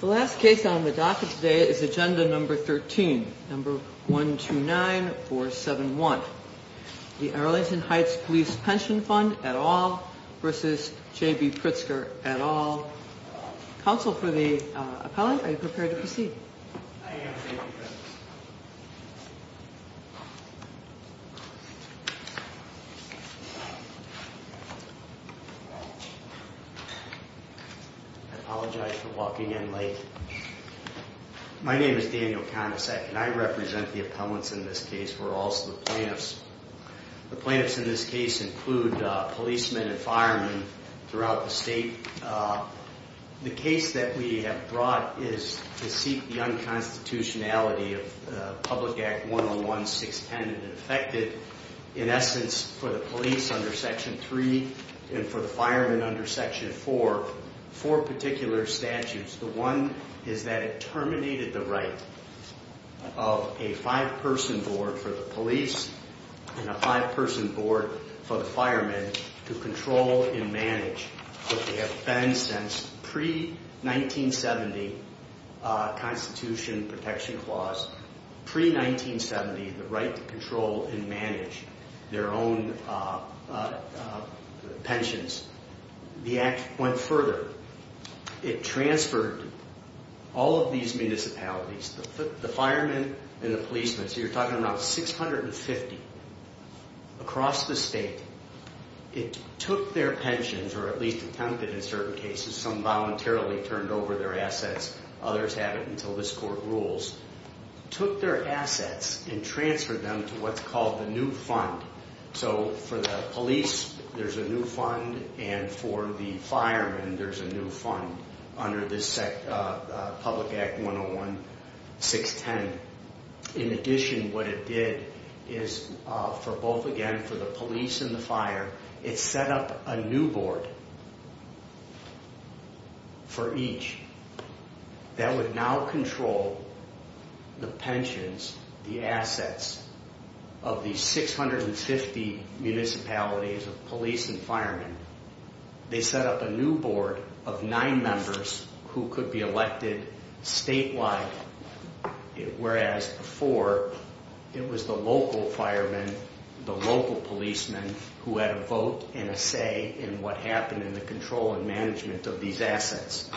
The last case on the docket today is agenda number 13, number 129471. The Arlington Heights Police Pension Fund at all versus JB Pritzker at all. Council for the appellant. Are you prepared to proceed? I apologize for walking in late. My name is Daniel Kondosek and I represent the appellants in this case. We're also the plaintiffs. The plaintiffs in this case include policemen and firemen throughout the state. The case that we have brought is to seek the unconstitutionality of Public Act 101, 610, and it affected, in essence, for the police under Section 3 and for the firemen under Section 4, four particular statutes. The one is that it terminated the right of a five-person board for the police and a five-person board for the firemen to control and manage what they have been since pre-1970 Constitution protection clause, pre-1970 the right to control and manage their own pensions. The act went further. It transferred all of these municipalities, the firemen and the policemen, so you're talking about 650 across the state, it took their pensions, or at least attempted in certain cases, some voluntarily turned over their assets, others haven't until this court rules, took their assets and transferred them to what's called the new fund. So for the police there's a new fund and for the firemen there's a new fund under this Public Act 101, 610. In addition, what it did is for both, again, for the police and the fire, it set up a new board for each that would now control the pensions, the assets of these 650 municipalities of police and firemen. They set up a new board of nine members who could be elected statewide, whereas before it was the local firemen, the local policemen who had a vote and a say in what happened in the control and management of these assets.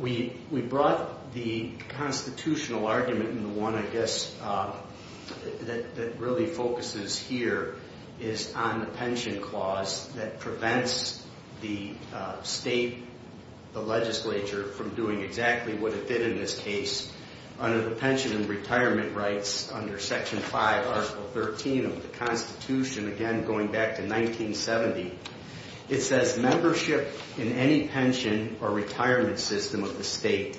We brought the constitutional argument and the one, I guess, that really focuses here is on the pension clause that prevents the state, the legislature, from doing exactly what it did in this case. Under the pension and retirement rights, under Section 5, Article 13 of the Constitution, again, going back to 1970, it says membership in any pension or retirement system of the state,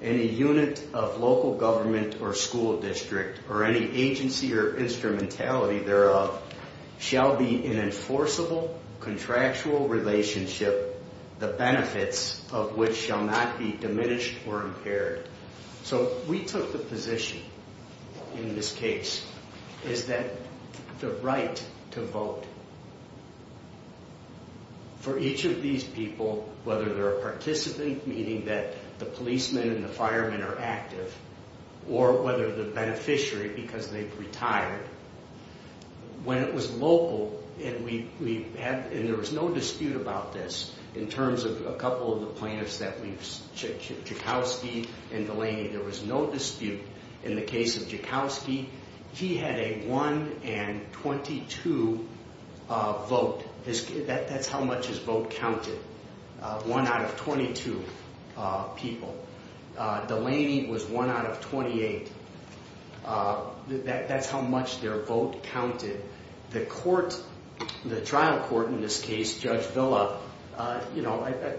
any unit of local government or school district, or any agency or instrumentality thereof, shall be an enforceable, contractual relationship, the benefits of which shall not be diminished or impaired. So we took the position in this case is that the right to vote for each of these people, whether they're a participant, meaning that the policemen and the firemen are active, or whether they're beneficiary because they've retired. When it was local, and there was no dispute about this in terms of a couple of the plaintiffs, Joukowsky and Delaney, there was no dispute. In the case of Joukowsky, he had a 1 in 22 vote. That's how much his vote counted, 1 out of 22 people. Delaney was 1 out of 28. That's how much their vote counted. The court, the trial court in this case, Judge Villa,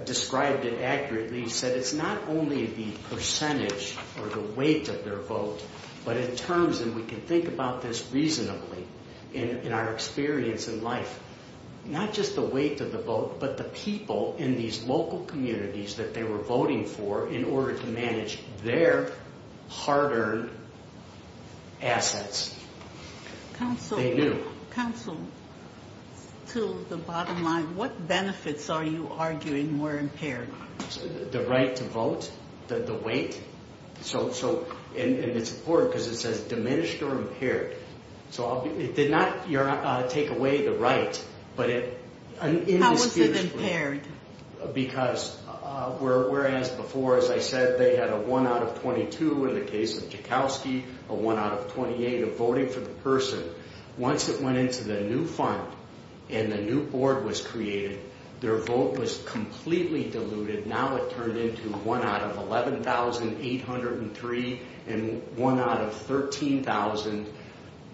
described it accurately, said it's not only the percentage or the weight of their vote, but in terms, and we can think about this reasonably in our experience in life, not just the weight of the vote, but the people in these local communities that they were voting for in order to manage their hard-earned assets. They knew. Counsel, to the bottom line, what benefits are you arguing were impaired? The right to vote? The weight? And it's important because it says diminished or impaired. So it did not take away the right, but it... How was it impaired? Because whereas before, as I said, they had a 1 out of 22 in the case of Joukowsky, a 1 out of 28 of voting for the person. Once it went into the new fund and the new board was created, their vote was completely diluted. Now it turned into 1 out of 11,803 and 1 out of 13,000,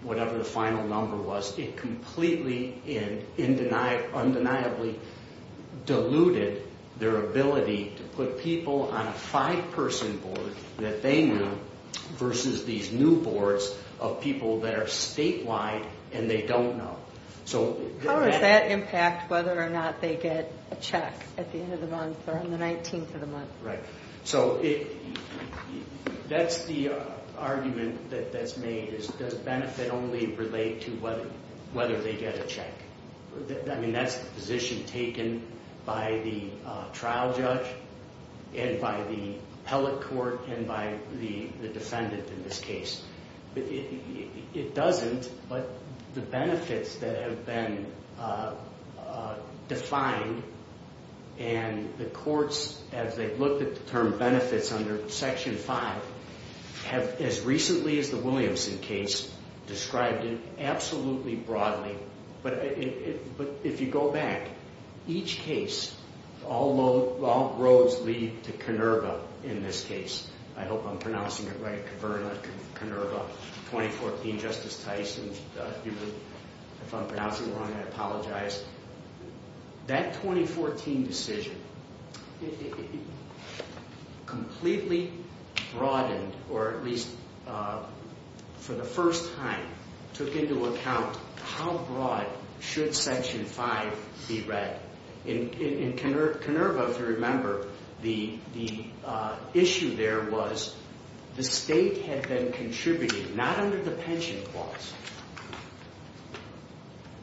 whatever the final number was. It completely and undeniably diluted their ability to put people on a five-person board that they knew versus these new boards of people that are statewide and they don't know. How does that impact whether or not they get a check at the end of the month or on the 19th of the month? Right. So that's the argument that's made is does benefit only relate to whether they get a check? I mean, that's the position taken by the trial judge and by the appellate court and by the defendant in this case. It doesn't, but the benefits that have been defined and the courts, as they've looked at the term benefits under Section 5, have, as recently as the Williamson case, described it absolutely broadly. But if you go back, each case, all roads lead to Kurnerva in this case. I hope I'm pronouncing it right, Kurnerva 2014, Justice Tyson. If I'm pronouncing it wrong, I apologize. That 2014 decision completely broadened, or at least for the first time, took into account how broad should Section 5 be read. In Kurnerva, if you remember, the issue there was the state had been contributing, not under the pension clause,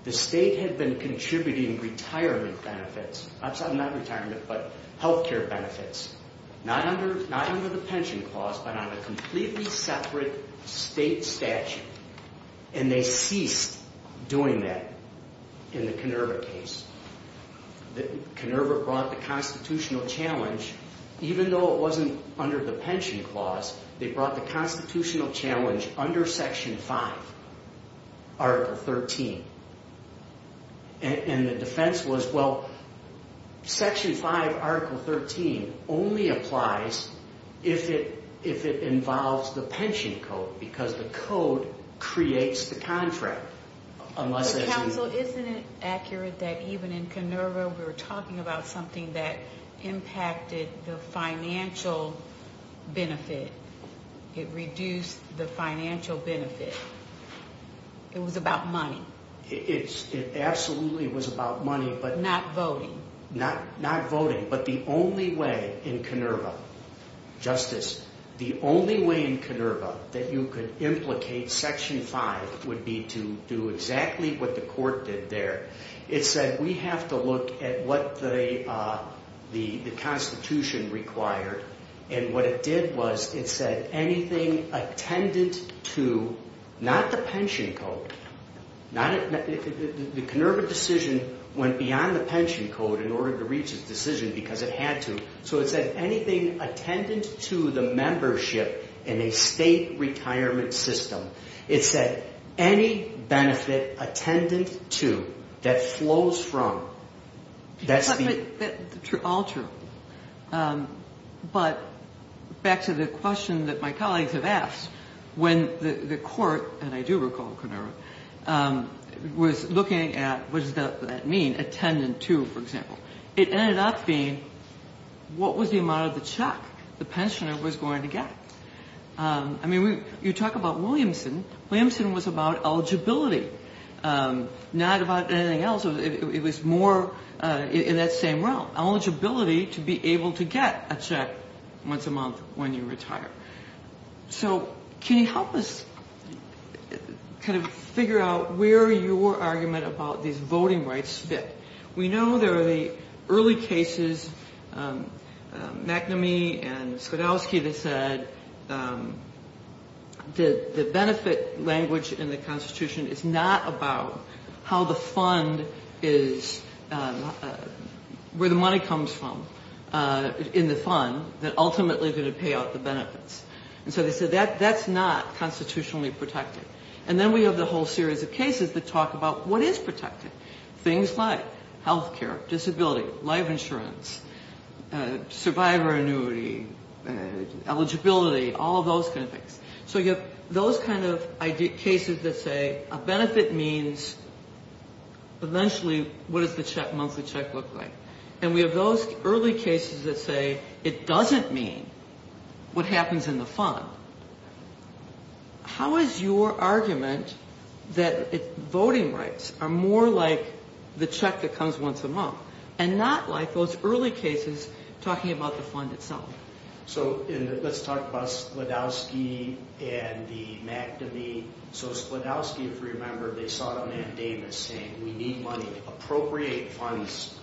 the state had been contributing retirement benefits. I'm sorry, not retirement, but health care benefits. Not under the pension clause, but on a completely separate state statute. And they ceased doing that in the Kurnerva case. Kurnerva brought the constitutional challenge, even though it wasn't under the pension clause, they brought the constitutional challenge under Section 5, Article 13. And the defense was, well, Section 5, Article 13 only applies if it involves the pension code, because the code creates the contract. But Counsel, isn't it accurate that even in Kurnerva, we were talking about something that impacted the financial benefit? It reduced the financial benefit. It was about money. It absolutely was about money, but not voting. But the only way in Kurnerva, Justice, the only way in Kurnerva that you could implicate Section 5 would be to do exactly what the court did there. It said, we have to look at what the Constitution required. And what it did was, it said anything attendant to, not the pension code, the Kurnerva decision went beyond the pension code in order to reach a decision because it had to. So it said anything attendant to the membership in a state retirement system. It said any benefit attendant to, that flows from, that's the... What was the amount of the check the pensioner was going to get? I mean, you talk about Williamson. Williamson was about eligibility, not about anything else. It was more in that same realm, eligibility to be able to get a check once a month when you retire. So can you help us kind of figure out where your argument about these voting rights fit? We know there are the early cases, McNamee and Sklodowsky, that said the benefit language in the Constitution is not about how the fund is, where the money comes from in the fund that ultimately is going to pay out the benefit. And so they said that's not constitutionally protected. And then we have the whole series of cases that talk about what is protected. Things like health care, disability, life insurance, survivor annuity, eligibility, all of those kind of things. So you have those kind of cases that say a benefit means eventually what does the monthly check look like. And we have those early cases that say it doesn't mean what happens in the fund. How is your argument that voting rights are more like the check that comes once a month and not like those early cases talking about the fund itself? So let's talk about Sklodowsky and the McNamee. So Sklodowsky, if you remember, they sought a mandamus saying we need money to appropriate funds,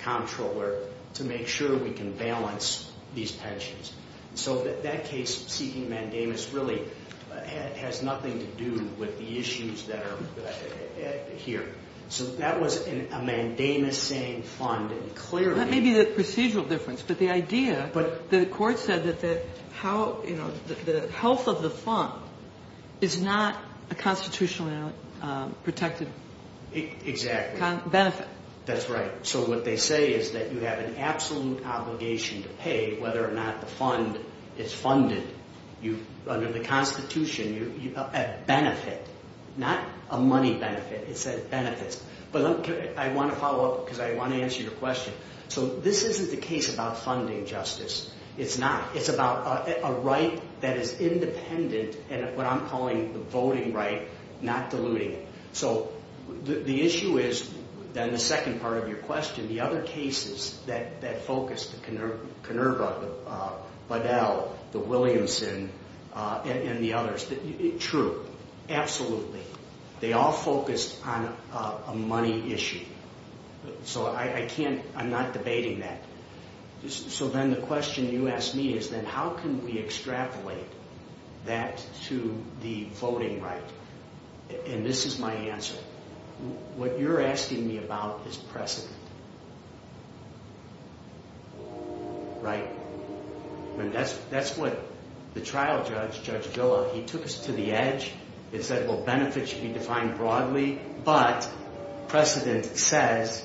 comptroller, to make sure we can balance these pensions. So that case seeking mandamus really has nothing to do with the issues that are here. So that was a mandamus saying fund. That may be the procedural difference. But the idea, the court said that the health of the fund is not a constitutionally protected benefit. That's right. So what they say is that you have an absolute obligation to pay whether or not the fund is funded. Under the constitution, a benefit, not a money benefit, it's a benefit. But I want to follow up because I want to answer your question. So this isn't the case about funding justice. It's not. It's about a right that is independent and what I'm calling the voting right, not diluting it. So the issue is, then the second part of your question, the other cases that focus, the Conerva, the Budell, the Williamson, and the others. True. Absolutely. They all focus on a money issue. So I can't, I'm not debating that. So then the question you asked me is then how can we extrapolate that to the voting right? And this is my answer. What you're asking me about is precedent. Right? That's what the trial judge, Judge Gilla, he took us to the edge. He said, well, benefits should be defined broadly, but precedent says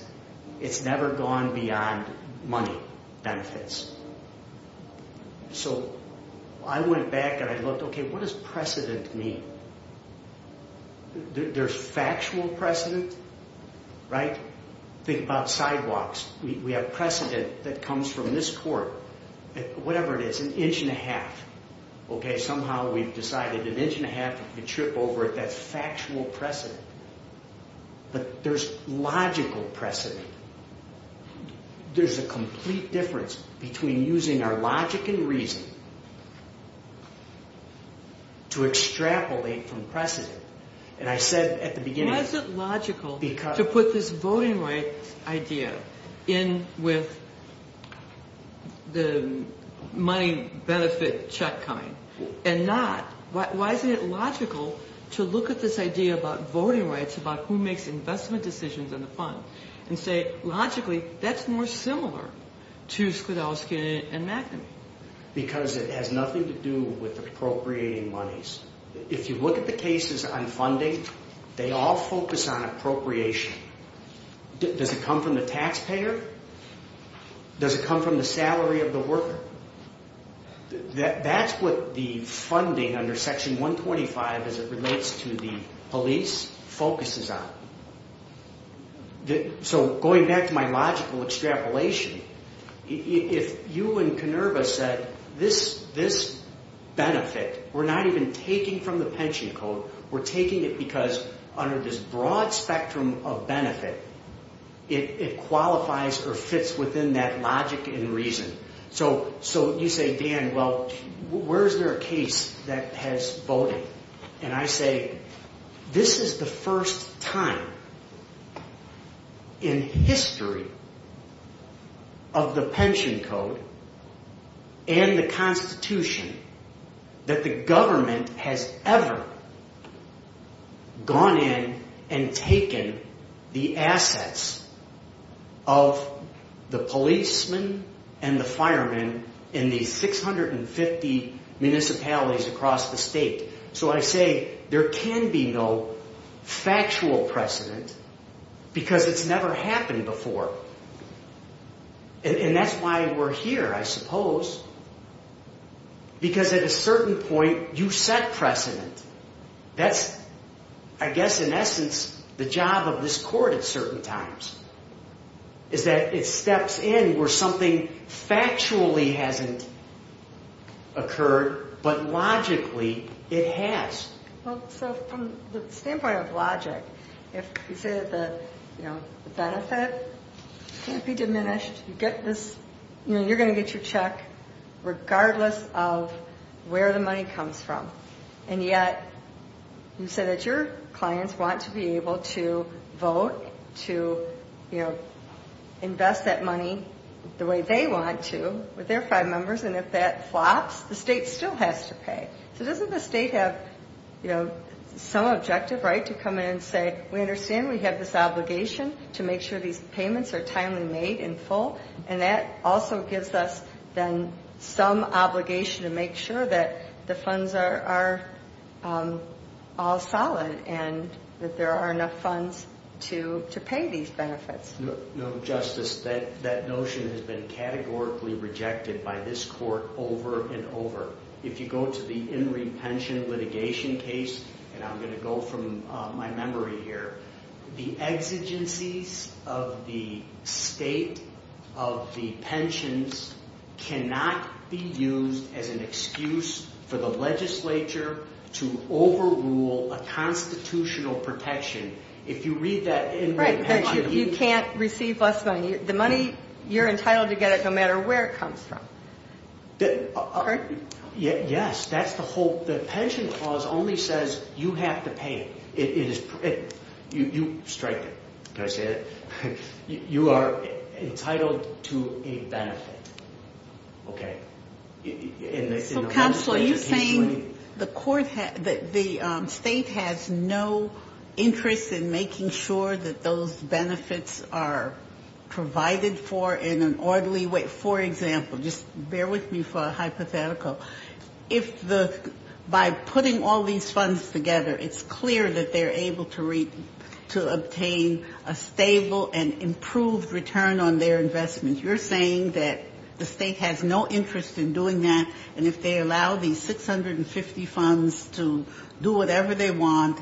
it's never gone beyond money benefits. So I went back and I looked, okay, what does precedent mean? There's factual precedent, right? Think about sidewalks. We have precedent that comes from this court, whatever it is, an inch and a half. Okay, somehow we've decided an inch and a half if you trip over it, that's factual precedent. But there's logical precedent. There's a complete difference between using our logic and reason to extrapolate from precedent. And I said at the beginning. Why is it logical to put this voting rights idea in with the money benefit check coming and not, why isn't it logical to look at this idea about voting rights, about who makes investment decisions in the fund, and say logically that's more similar to Sklodowsky and McNamee? Because it has nothing to do with appropriating monies. If you look at the cases on funding, they all focus on appropriation. Does it come from the taxpayer? Does it come from the salary of the worker? That's what the funding under Section 125 as it relates to the police focuses on. So going back to my logical extrapolation, if you and Kenerva said this benefit, we're not even taking from the pension code, we're taking it because under this broad spectrum of benefit, it qualifies or fits within that logic and reason. So you say, Dan, well, where is there a case that has voting? And I say, this is the first time in history of the pension code and the Constitution that the government has ever gone in and taken the assets of the policemen and the firemen in these 650 municipalities across the state. So I say there can be no factual precedent because it's never happened before. And that's why we're here, I suppose, because at a certain point you set precedent. That's, I guess, in essence, the job of this court at certain times is that it steps in where something factually hasn't occurred, but logically it has. Well, so from the standpoint of logic, if you say that the benefit can't be diminished, you're going to get your check regardless of where the money comes from. And yet you say that your clients want to be able to vote, to, you know, invest that money the way they want to with their five members, and if that flops, the state still has to pay. So doesn't the state have, you know, some objective, right, to come in and say, we understand we have this obligation to make sure these payments are timely made in full, and that also gives us then some obligation to make sure that the funds are all solid and that there are enough funds to pay these benefits. No, Justice, that notion has been categorically rejected by this court over and over. If you go to the In Re Pension litigation case, and I'm going to go from my memory here, the exigencies of the state of the pensions cannot be used as an excuse for the legislature to overrule a constitutional protection. Right, that you can't receive less money. The money, you're entitled to get it no matter where it comes from. Yes, that's the whole, the pension clause only says you have to pay. You are entitled to a benefit. Okay. So, counsel, are you saying the court, the state has no interest in making sure that those benefits are provided for in an orderly way? For example, just bear with me for a hypothetical. If the, by putting all these funds together, it's clear that they're able to obtain a stable and improved return on their investment. You're saying that the state has no interest in doing that, and if they allow these 650 funds to do whatever they want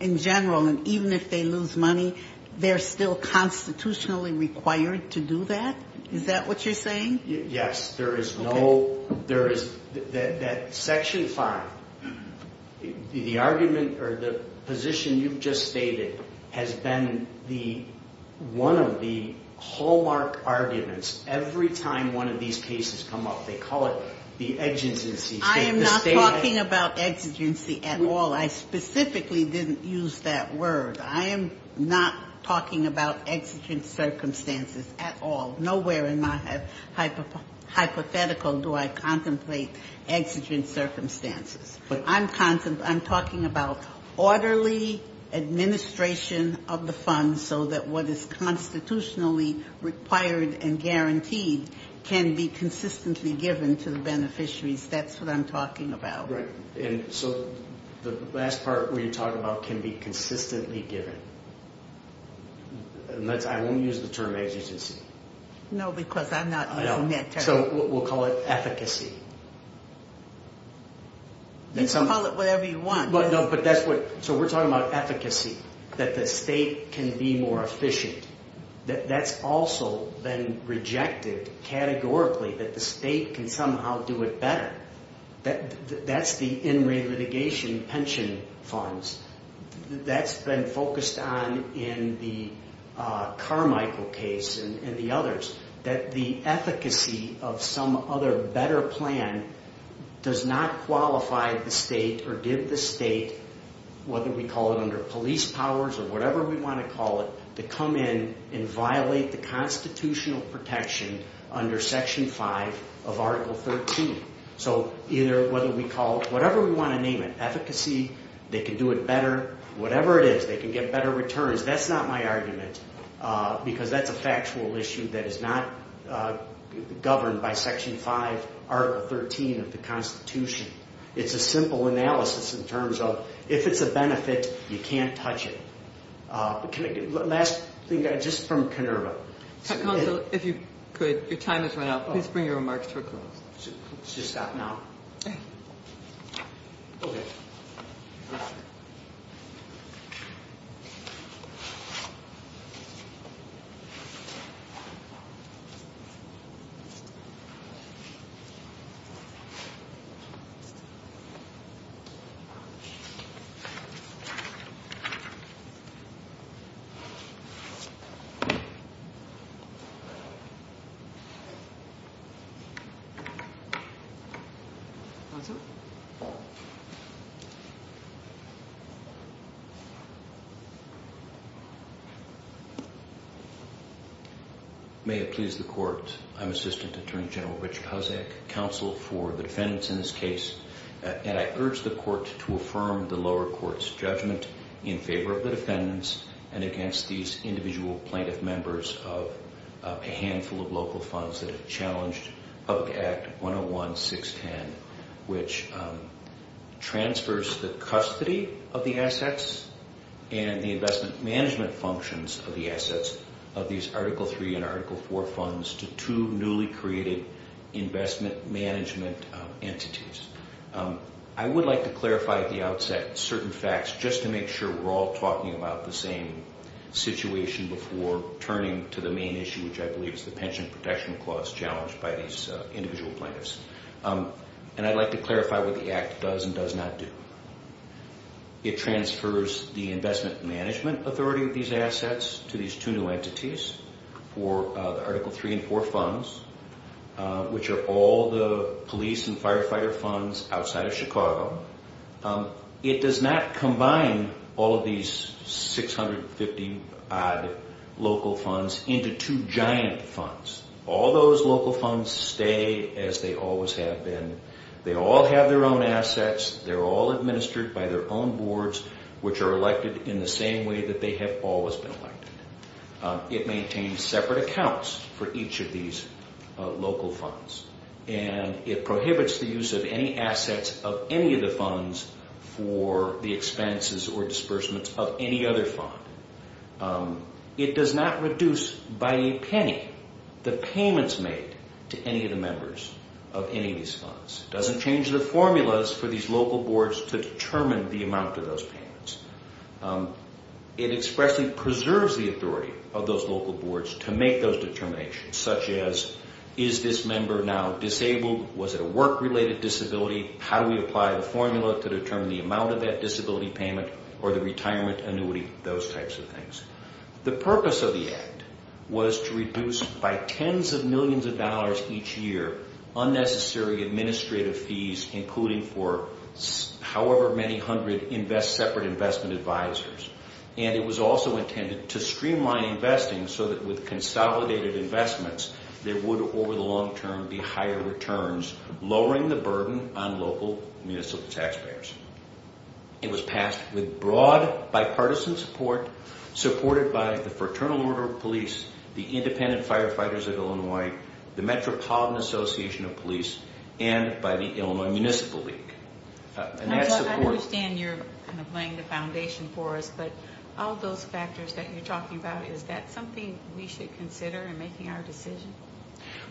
in general, and even if they lose money, they're still constitutionally required to do that? Is that what you're saying? Yes, there is no, there is, that section five, the argument or the position you've just stated has been the, one of the hallmark arguments every time one of these cases come up. They call it the exigencies. I am not talking about exigency at all. I specifically didn't use that word. I am not talking about exigent circumstances at all. Nowhere in my hypothetical do I contemplate exigent circumstances. I'm talking about orderly administration of the funds so that what is constitutionally required and guaranteed can be consistently given to the beneficiaries. That's what I'm talking about. Right, and so the last part where you talk about can be consistently given, and that's, I won't use the term exigency. No, because I'm not using that term. So we'll call it efficacy. You can call it whatever you want. No, but that's what, so we're talking about efficacy, that the state can be more efficient. That's also been rejected categorically, that the state can somehow do it better. That's the in-rate litigation pension funds. That's been focused on in the Carmichael case and the others, that the efficacy of some other better plan does not qualify the state or give the state, whether we call it under police powers or whatever we want to call it, to come in and violate the constitutional protection under Section 5 of Article 13. So either, whether we call it, whatever we want to name it, efficacy, they can do it better, whatever it is, they can get better returns. That's not my argument because that's a factual issue that is not governed by Section 5, Article 13 of the Constitution. It's a simple analysis in terms of if it's a benefit, you can't touch it. Can I get, last thing, just from Kenerva. Counsel, if you could, your time has run out. Please bring your remarks to a close. It's just that now. Thank you. Okay. Counsel? which transfers the custody of the assets and the investment management functions of the assets of these Article 3 and Article 4 funds to two newly created investment management entities. I would like to clarify at the outset certain facts just to make sure we're all talking about the same situation before turning to the main issue, which I believe is the pension protection clause challenged by these individual plaintiffs. And I'd like to clarify what the Act does and does not do. It transfers the investment management authority of these assets to these two new entities for the Article 3 and 4 funds, which are all the police and firefighter funds outside of Chicago. It does not combine all of these 650-odd local funds into two giant funds. All those local funds stay as they always have been. They all have their own assets. They're all administered by their own boards, which are elected in the same way that they have always been elected. It maintains separate accounts for each of these local funds. And it prohibits the use of any assets of any of the funds for the expenses or disbursements of any other fund. It does not reduce by a penny the payments made to any of the members of any of these funds. It doesn't change the formulas for these local boards to determine the amount of those payments. It expressly preserves the authority of those local boards to make those determinations, such as, is this member now disabled? Was it a work-related disability? How do we apply the formula to determine the amount of that disability payment or the retirement annuity? Those types of things. The purpose of the Act was to reduce by tens of millions of dollars each year unnecessary administrative fees, including for however many hundred separate investment advisors. And it was also intended to streamline investing so that with consolidated investments, there would, over the long term, be higher returns, lowering the burden on local municipal taxpayers. It was passed with broad bipartisan support, supported by the Fraternal Order of Police, the Independent Firefighters of Illinois, the Metropolitan Association of Police, and by the Illinois Municipal League. And that's the purpose. I understand you're kind of laying the foundation for us, but all those factors that you're talking about, is that something we should consider in making our decision?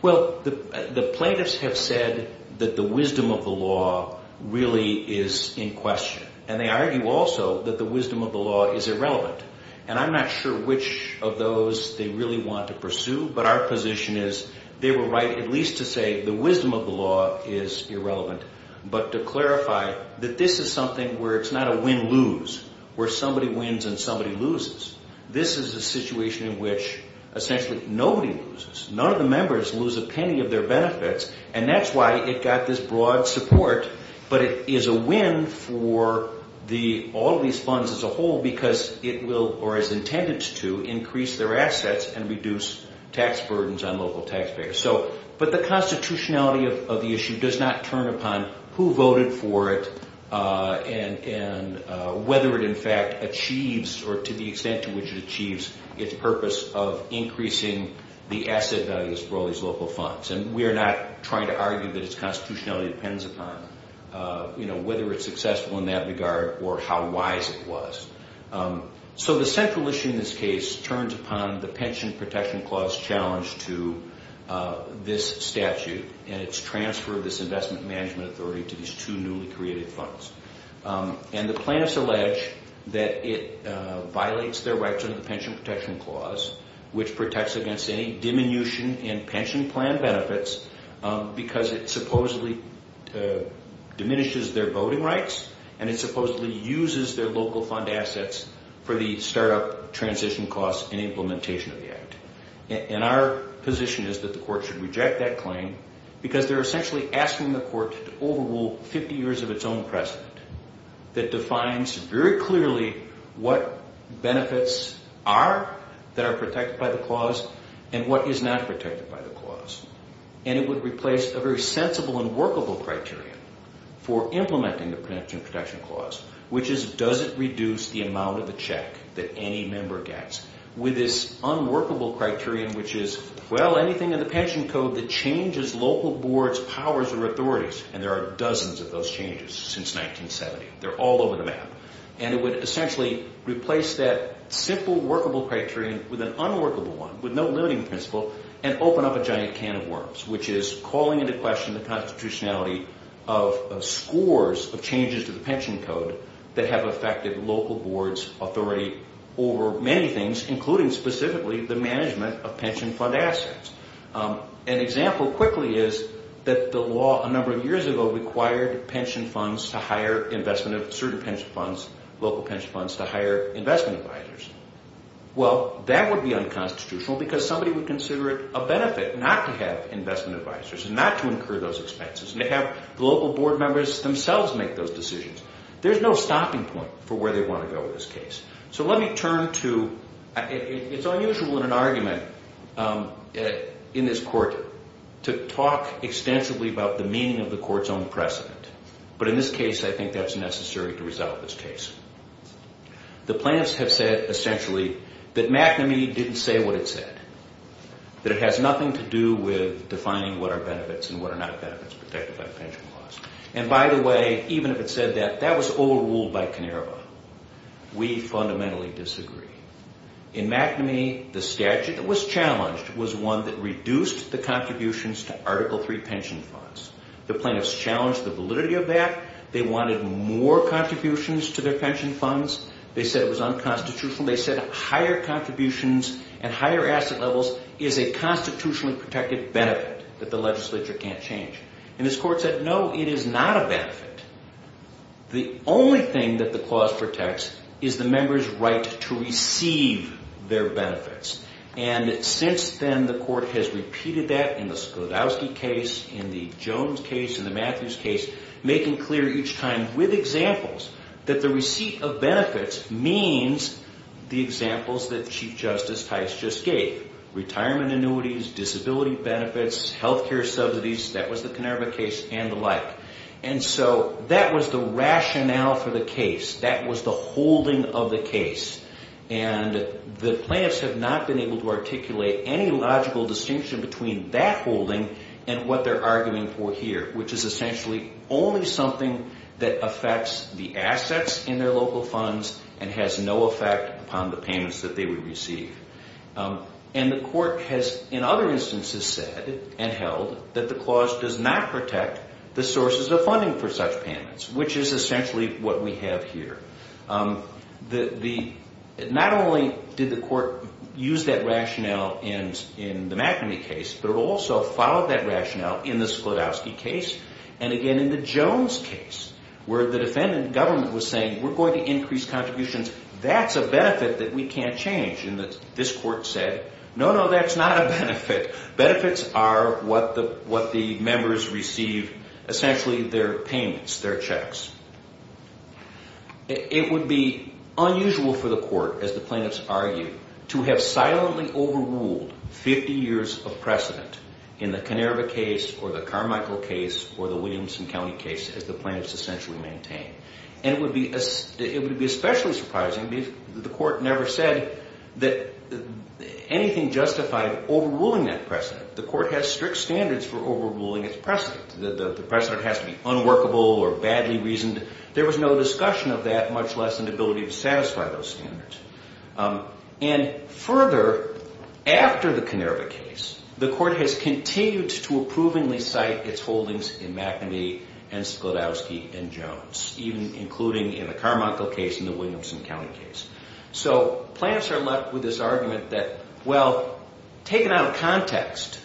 Well, the plaintiffs have said that the wisdom of the law really is in question, and they argue also that the wisdom of the law is irrelevant. And I'm not sure which of those they really want to pursue, but our position is they were right at least to say the wisdom of the law is irrelevant, but to clarify that this is something where it's not a win-lose, where somebody wins and somebody loses. This is a situation in which essentially nobody loses. None of the members lose a penny of their benefits, and that's why it got this broad support, but it is a win for all of these funds as a whole because it will, or is intended to, increase their assets and reduce tax burdens on local taxpayers. But the constitutionality of the issue does not turn upon who voted for it and whether it in fact achieves, or to the extent to which it achieves, its purpose of increasing the asset values for all these local funds. And we are not trying to argue that its constitutionality depends upon, you know, whether it's successful in that regard or how wise it was. So the central issue in this case turns upon the Pension Protection Clause challenge to this statute and its transfer of this investment management authority to these two newly created funds. And the plaintiffs allege that it violates their rights under the Pension Protection Clause, which protects against any diminution in pension plan benefits because it supposedly diminishes their voting rights and it supposedly uses their local fund assets for the startup transition costs and implementation of the act. And our position is that the court should reject that claim because they're essentially asking the court to overrule 50 years of its own precedent that defines very clearly what benefits are that are protected by the clause and what is not protected by the clause. And it would replace a very sensible and workable criteria for implementing the Pension Protection Clause, which is does it reduce the amount of the check that any member gets. With this unworkable criterion, which is, well, anything in the Pension Code that changes local boards, powers, or authorities. And there are dozens of those changes since 1970. They're all over the map. And it would essentially replace that simple workable criterion with an unworkable one, with no limiting principle, and open up a giant can of worms, which is calling into question the constitutionality of scores of changes to the Pension Code that have affected local boards, authority, or many things, including specifically the management of pension fund assets. An example quickly is that the law a number of years ago required pension funds to hire investment of certain pension funds, local pension funds, to hire investment advisors. Well, that would be unconstitutional because somebody would consider it a benefit not to have investment advisors and not to incur those expenses and to have the local board members themselves make those decisions. There's no stopping point for where they want to go with this case. So let me turn to, it's unusual in an argument in this court to talk extensively about the meaning of the court's own precedent. But in this case, I think that's necessary to resolve this case. The plaintiffs have said, essentially, that McNamee didn't say what it said, that it has nothing to do with defining what are benefits and what are not benefits protected by the pension clause. And, by the way, even if it said that, that was old rule by Canerva. We fundamentally disagree. In McNamee, the statute that was challenged was one that reduced the contributions to Article III pension funds. The plaintiffs challenged the validity of that. They wanted more contributions to their pension funds. They said it was unconstitutional. They said higher contributions and higher asset levels is a constitutionally protected benefit that the legislature can't change. And this court said, no, it is not a benefit. The only thing that the clause protects is the member's right to receive their benefits. And since then, the court has repeated that in the Sklodowsky case, in the Jones case, in the Matthews case, making clear each time with examples that the receipt of benefits means the examples that Chief Justice Tice just gave. Retirement annuities, disability benefits, health care subsidies, that was the Canerva case and the like. And so that was the rationale for the case. That was the holding of the case. And the plaintiffs have not been able to articulate any logical distinction between that holding and what they're arguing for here, which is essentially only something that affects the assets in their local funds and has no effect upon the payments that they would receive. And the court has, in other instances, said and held that the clause does not protect the sources of funding for such payments, which is essentially what we have here. Not only did the court use that rationale in the McNamee case, but it also followed that rationale in the Sklodowsky case and, again, in the Jones case, where the defendant government was saying, we're going to increase contributions. That's a benefit that we can't change. And this court said, no, no, that's not a benefit. Benefits are what the members receive, essentially their payments, their checks. It would be unusual for the court, as the plaintiffs argue, to have silently overruled 50 years of precedent in the Canerva case or the Carmichael case or the Williamson County case, as the plaintiffs essentially maintain. And it would be especially surprising if the court never said that anything justified overruling that precedent. The court has strict standards for overruling its precedent. The precedent has to be unworkable or badly reasoned. There was no discussion of that, much less an ability to satisfy those standards. And further, after the Canerva case, the court has continued to approvingly cite its holdings in McNamee and Sklodowsky and Jones, even including in the Carmichael case and the Williamson County case. So plaintiffs are left with this argument that, well, taken out of context,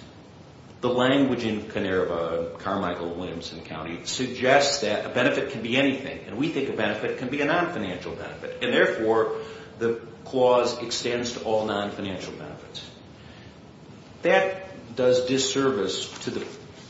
the language in Canerva and Carmichael and Williamson County suggests that a benefit can be anything. And we think a benefit can be a nonfinancial benefit. And, therefore, the clause extends to all nonfinancial benefits. That does disservice to the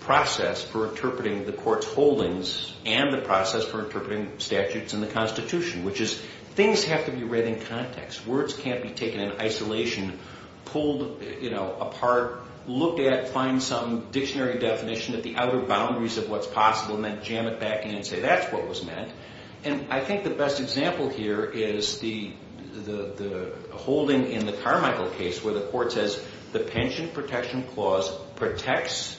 process for interpreting the court's holdings and the process for interpreting statutes in the Constitution, which is things have to be read in context. Words can't be taken in isolation, pulled apart, looked at, find some dictionary definition of the outer boundaries of what's possible, and then jam it back in and say that's what was meant. And I think the best example here is the holding in the Carmichael case where the court says the Pension Protection Clause protects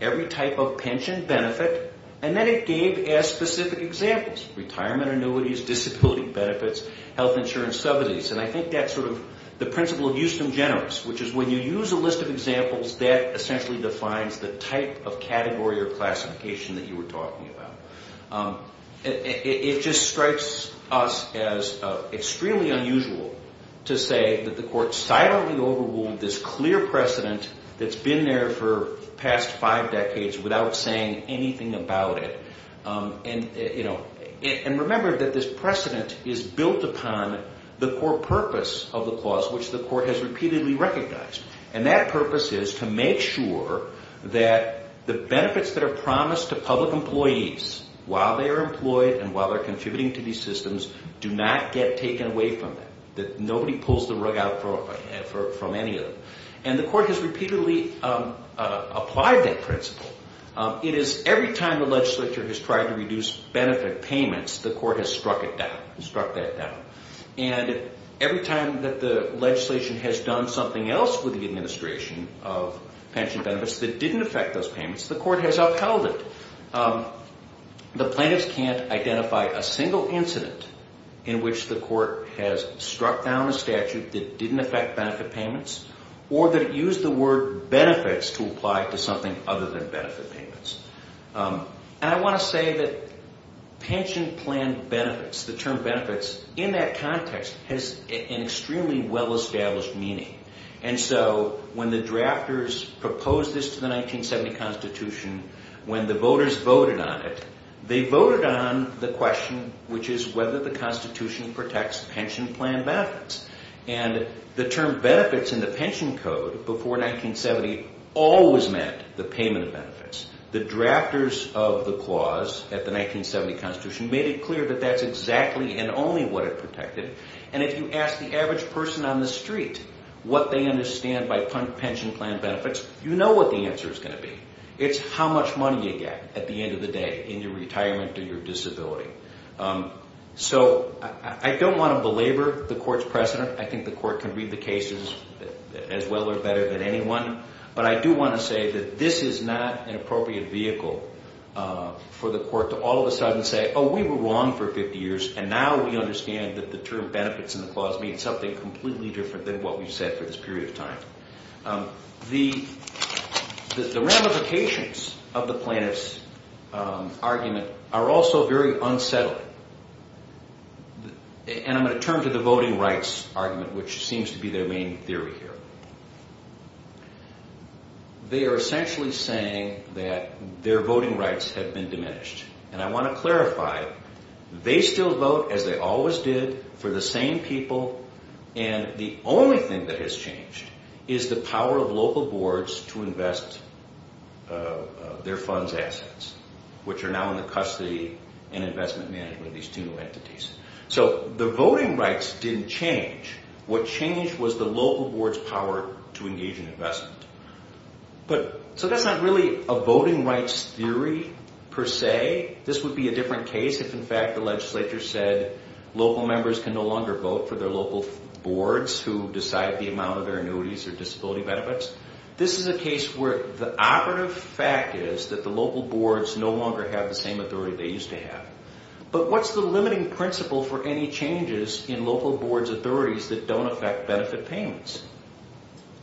every type of pension benefit, and then it gave us specific examples, retirement annuities, disability benefits, health insurance subsidies. And I think that's sort of the principle of justum generis, which is when you use a list of examples, that essentially defines the type of category or classification that you were talking about. It just strikes us as extremely unusual to say that the court silently overruled this clear precedent that's been there for the past five decades without saying anything about it. And remember that this precedent is built upon the core purpose of the clause, which the court has repeatedly recognized. And that purpose is to make sure that the benefits that are promised to public employees while they are employed and while they're contributing to these systems do not get taken away from them, that nobody pulls the rug out from any of them. And the court has repeatedly applied that principle. It is every time the legislature has tried to reduce benefit payments, the court has struck it down, struck that down. And every time that the legislation has done something else with the administration of pension benefits that didn't affect those payments, the court has upheld it. The plaintiffs can't identify a single incident in which the court has struck down a statute that didn't affect benefit payments or that it used the word benefits to apply to something other than benefit payments. And I want to say that pension plan benefits, the term benefits, in that context has an extremely well-established meaning. And so when the drafters proposed this to the 1970 Constitution, when the voters voted on it, they voted on the question, which is whether the Constitution protects pension plan benefits. And the term benefits in the pension code before 1970 always meant the payment of benefits. The drafters of the clause at the 1970 Constitution made it clear that that's exactly and only what it protected. And if you ask the average person on the street what they understand by pension plan benefits, you know what the answer is going to be. It's how much money you get at the end of the day in your retirement or your disability. So I don't want to belabor the court's precedent. I think the court can read the cases as well or better than anyone. But I do want to say that this is not an appropriate vehicle for the court to all of a sudden say, oh, we were wrong for 50 years, and now we understand that the term benefits in the clause means something completely different than what we've said for this period of time. The ramifications of the plaintiff's argument are also very unsettling. And I'm going to turn to the voting rights argument, which seems to be their main theory here. They are essentially saying that their voting rights have been diminished. And I want to clarify, they still vote as they always did for the same people, and the only thing that has changed is the power of local boards to invest their funds' assets, which are now in the custody and investment management of these two entities. So the voting rights didn't change. What changed was the local board's power to engage in investment. So that's not really a voting rights theory per se. This would be a different case if, in fact, the legislature said local members can no longer vote for their local boards who decide the amount of their annuities or disability benefits. This is a case where the operative fact is that the local boards no longer have the same authority they used to have. But what's the limiting principle for any changes in local boards' authorities that don't affect benefit payments?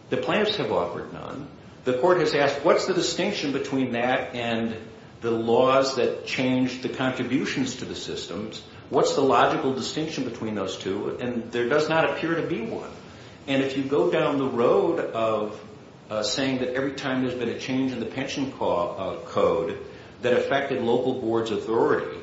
The plaintiffs have offered none. The court has asked, what's the distinction between that and the laws that change the contributions to the systems? What's the logical distinction between those two? And there does not appear to be one. And if you go down the road of saying that every time there's been a change in the pension code that affected local boards' authority,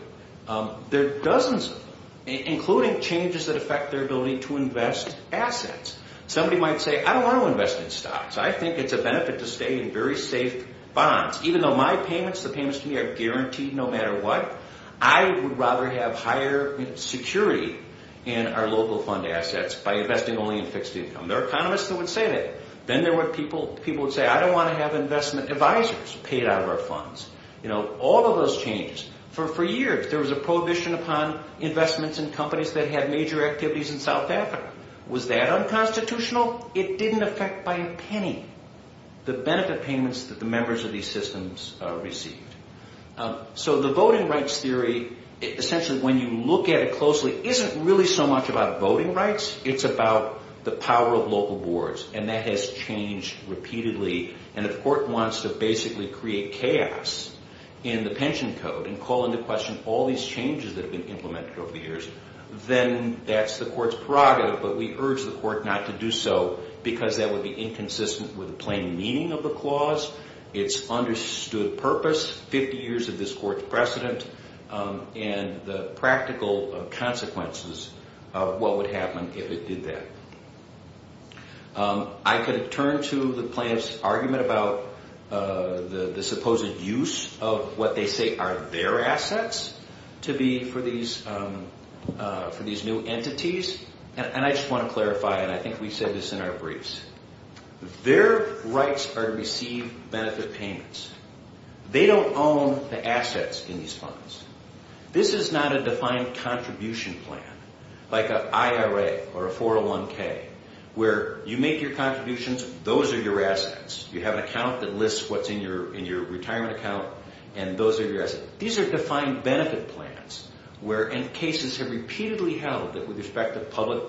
there are dozens of them, including changes that affect their ability to invest assets. Somebody might say, I don't want to invest in stocks. I think it's a benefit to stay in very safe bonds. Even though my payments, the payments to me, are guaranteed no matter what, I would rather have higher security in our local fund assets by investing only in fixed income. There are economists that would say that. Then there were people who would say, I don't want to have investment advisors paid out of our funds. All of those changes. For years, there was a prohibition upon investments in companies that had major activities in South Africa. Was that unconstitutional? It didn't affect by a penny the benefit payments that the members of these systems received. So the voting rights theory, essentially when you look at it closely, isn't really so much about voting rights. It's about the power of local boards, and that has changed repeatedly. And if court wants to basically create chaos in the pension code and call into question all these changes that have been implemented over the years, then that's the court's prerogative, but we urge the court not to do so because that would be inconsistent with the plain meaning of the clause, its understood purpose, 50 years of this court's precedent, and the practical consequences of what would happen if it did that. I could turn to the plaintiff's argument about the supposed use of what they say are their assets to be for these new entities, and I just want to clarify, and I think we said this in our briefs. Their rights are to receive benefit payments. They don't own the assets in these funds. This is not a defined contribution plan, like an IRA or a 401k, where you make your contributions, those are your assets. You have an account that lists what's in your retirement account, and those are your assets. These are defined benefit plans, and cases have repeatedly held that with respect to public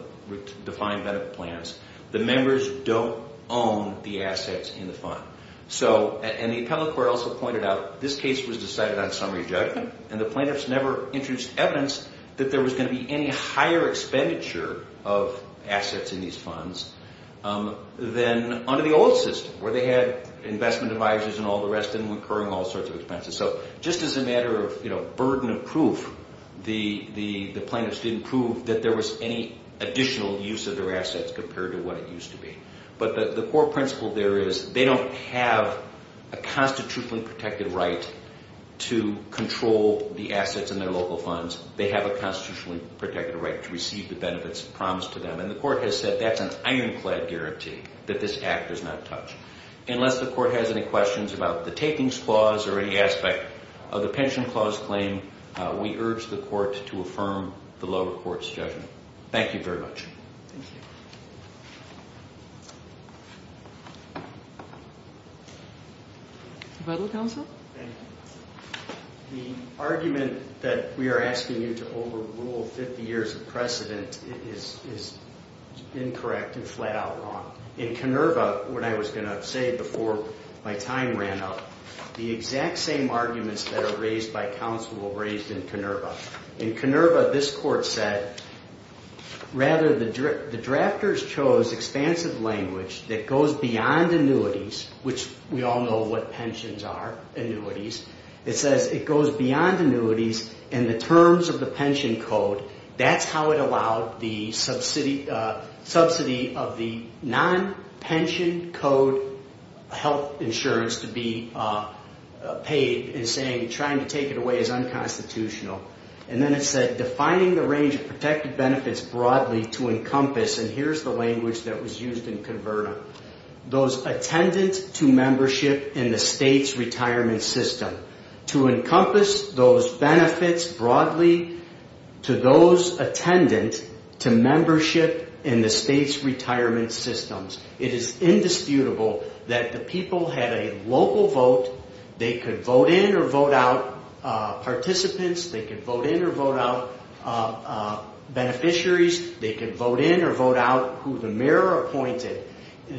defined benefit plans, the members don't own the assets in the fund. And the appellate court also pointed out this case was decided on summary judgment, and the plaintiffs never introduced evidence that there was going to be any higher expenditure of assets in these funds than under the old system, where they had investment advisors and all the rest and incurring all sorts of expenses. So just as a matter of burden of proof, the plaintiffs didn't prove that there was any additional use of their assets compared to what it used to be. But the core principle there is they don't have a constitutionally protected right to control the assets in their local funds. They have a constitutionally protected right to receive the benefits promised to them, and the court has said that's an ironclad guarantee that this act does not touch, unless the court has any questions about the takings clause or any aspect of the pension clause claim, we urge the court to affirm the lower court's judgment. Thank you very much. Thank you. Federal counsel. Thank you. The argument that we are asking you to overrule 50 years of precedent is incorrect and flat out wrong. In Kenerva, what I was going to say before my time ran up, the exact same arguments that are raised by counsel were raised in Kenerva. In Kenerva, this court said rather the drafters chose expansive language that goes beyond annuities, which we all know what pensions are, annuities. It says it goes beyond annuities and the terms of the pension code, that's how it allowed the subsidy of the non-pension code health insurance to be paid, and saying trying to take it away is unconstitutional. And then it said defining the range of protected benefits broadly to encompass, and here's the language that was used in Kenerva, those attendant to membership in the state's retirement system. To encompass those benefits broadly to those attendant to membership in the state's retirement systems. It is indisputable that the people had a local vote. They could vote in or vote out participants. They could vote in or vote out beneficiaries. They could vote in or vote out who the mayor appointed.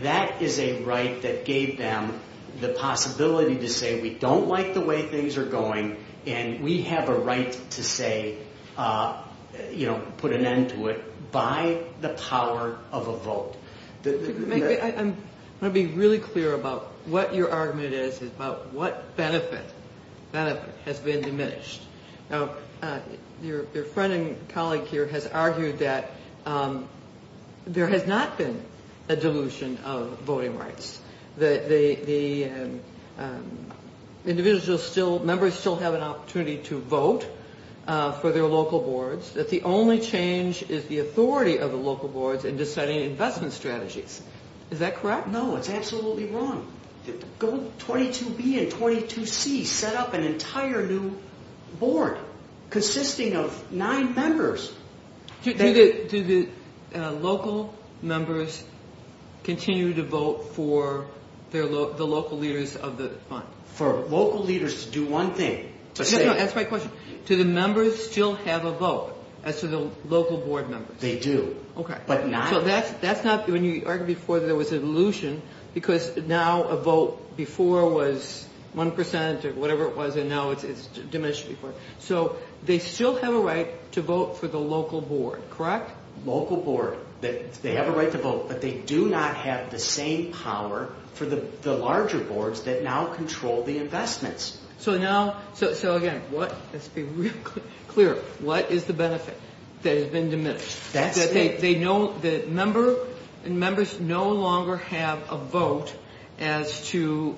That is a right that gave them the possibility to say we don't like the way things are going and we have a right to say, you know, put an end to it by the power of a vote. I want to be really clear about what your argument is about what benefit has been diminished. Now, your friend and colleague here has argued that there has not been a dilution of voting rights, that the individual still, members still have an opportunity to vote for their local boards, that the only change is the authority of the local boards in deciding investment strategies. Is that correct? No, it's absolutely wrong. 22B and 22C set up an entire new board consisting of nine members. Do the local members continue to vote for the local leaders of the fund? For local leaders to do one thing. That's my question. Do the members still have a vote as to the local board members? They do. Okay. So that's not, when you argued before there was a dilution because now a vote before was 1% or whatever it was and now it's diminished. So they still have a right to vote for the local board, correct? Local board, they have a right to vote, but they do not have the same power for the larger boards that now control the investments. So now, so again, let's be real clear. What is the benefit that has been diminished? That they know the member and members no longer have a vote as to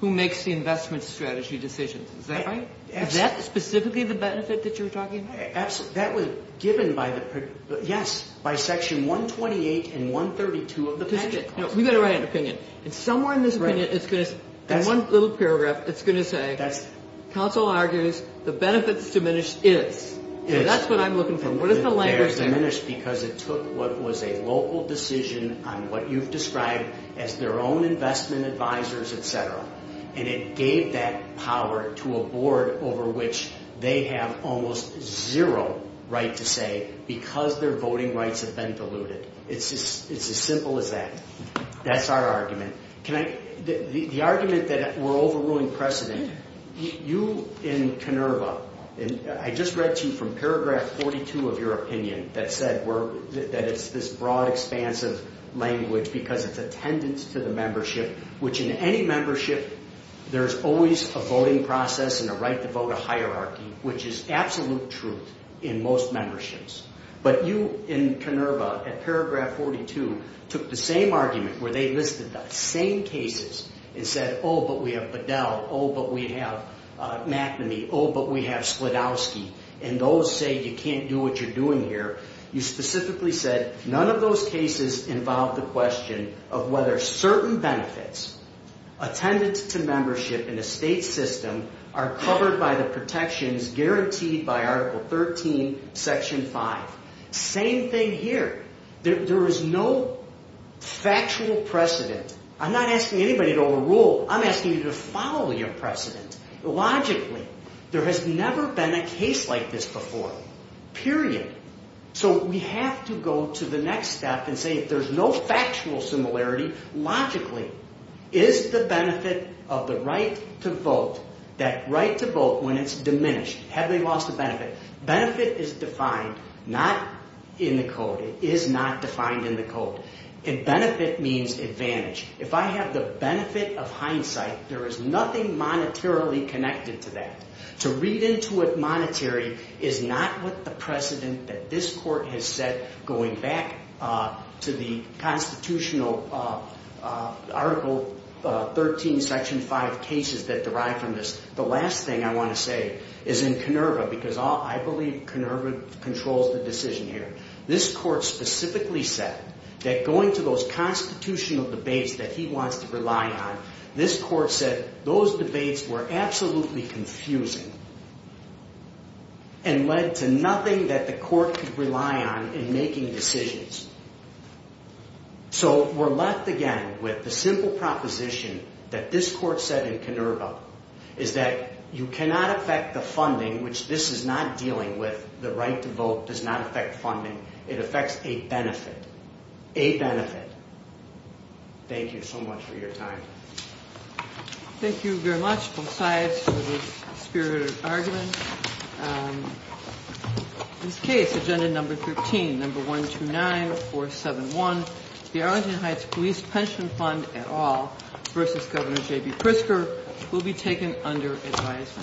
who makes the investment strategy decisions. Is that right? Is that specifically the benefit that you're talking about? That was given by the, yes, by Section 128 and 132 of the budget. We've got to write an opinion. And somewhere in this opinion it's going to, in one little paragraph, it's going to say, counsel argues the benefit that's diminished is. So that's what I'm looking for. What is the language there? It's diminished because it took what was a local decision on what you've described as their own investment advisors, et cetera. And it gave that power to a board over which they have almost zero right to say because their voting rights have been diluted. It's as simple as that. That's our argument. Can I, the argument that we're overruling precedent. You in Kenerva, and I just read to you from paragraph 42 of your opinion that said that it's this broad, expansive language because it's attendance to the membership, which in any membership there's always a voting process and a right to vote, a hierarchy, which is absolute truth in most memberships. But you in Kenerva at paragraph 42 took the same argument where they listed the same cases and said, oh, but we have Bedell. Oh, but we have McNamee. Oh, but we have Sklodowsky. And those say you can't do what you're doing here. You specifically said none of those cases involve the question of whether certain benefits attended to membership in a state system are covered by the protections guaranteed by Article 13, Section 5. Same thing here. There is no factual precedent. I'm not asking anybody to overrule. I'm asking you to follow your precedent. Logically, there has never been a case like this before, period. So we have to go to the next step and say there's no factual similarity. Logically, is the benefit of the right to vote, that right to vote when it's diminished, have they lost the benefit? Benefit is defined not in the code. It is not defined in the code. And benefit means advantage. If I have the benefit of hindsight, there is nothing monetarily connected to that. To read into it monetary is not what the precedent that this court has set going back to the Constitutional Article 13, Section 5 cases that derive from this. The last thing I want to say is in Kenerva because I believe Kenerva controls the decision here. This court specifically said that going to those Constitutional debates that he wants to rely on, this court said those debates were absolutely confusing and led to nothing that the court could rely on in making decisions. So we're left again with the simple proposition that this court said in Kenerva is that you cannot affect the funding, which this is not dealing with. The right to vote does not affect funding. It affects a benefit. A benefit. Thank you so much for your time. Thank you very much, both sides, for this spirited argument. This case, Agenda Number 13, Number 129471, the Arlington Heights Police Pension Fund et al. versus Governor J.B. Pritzker will be taken under advisory.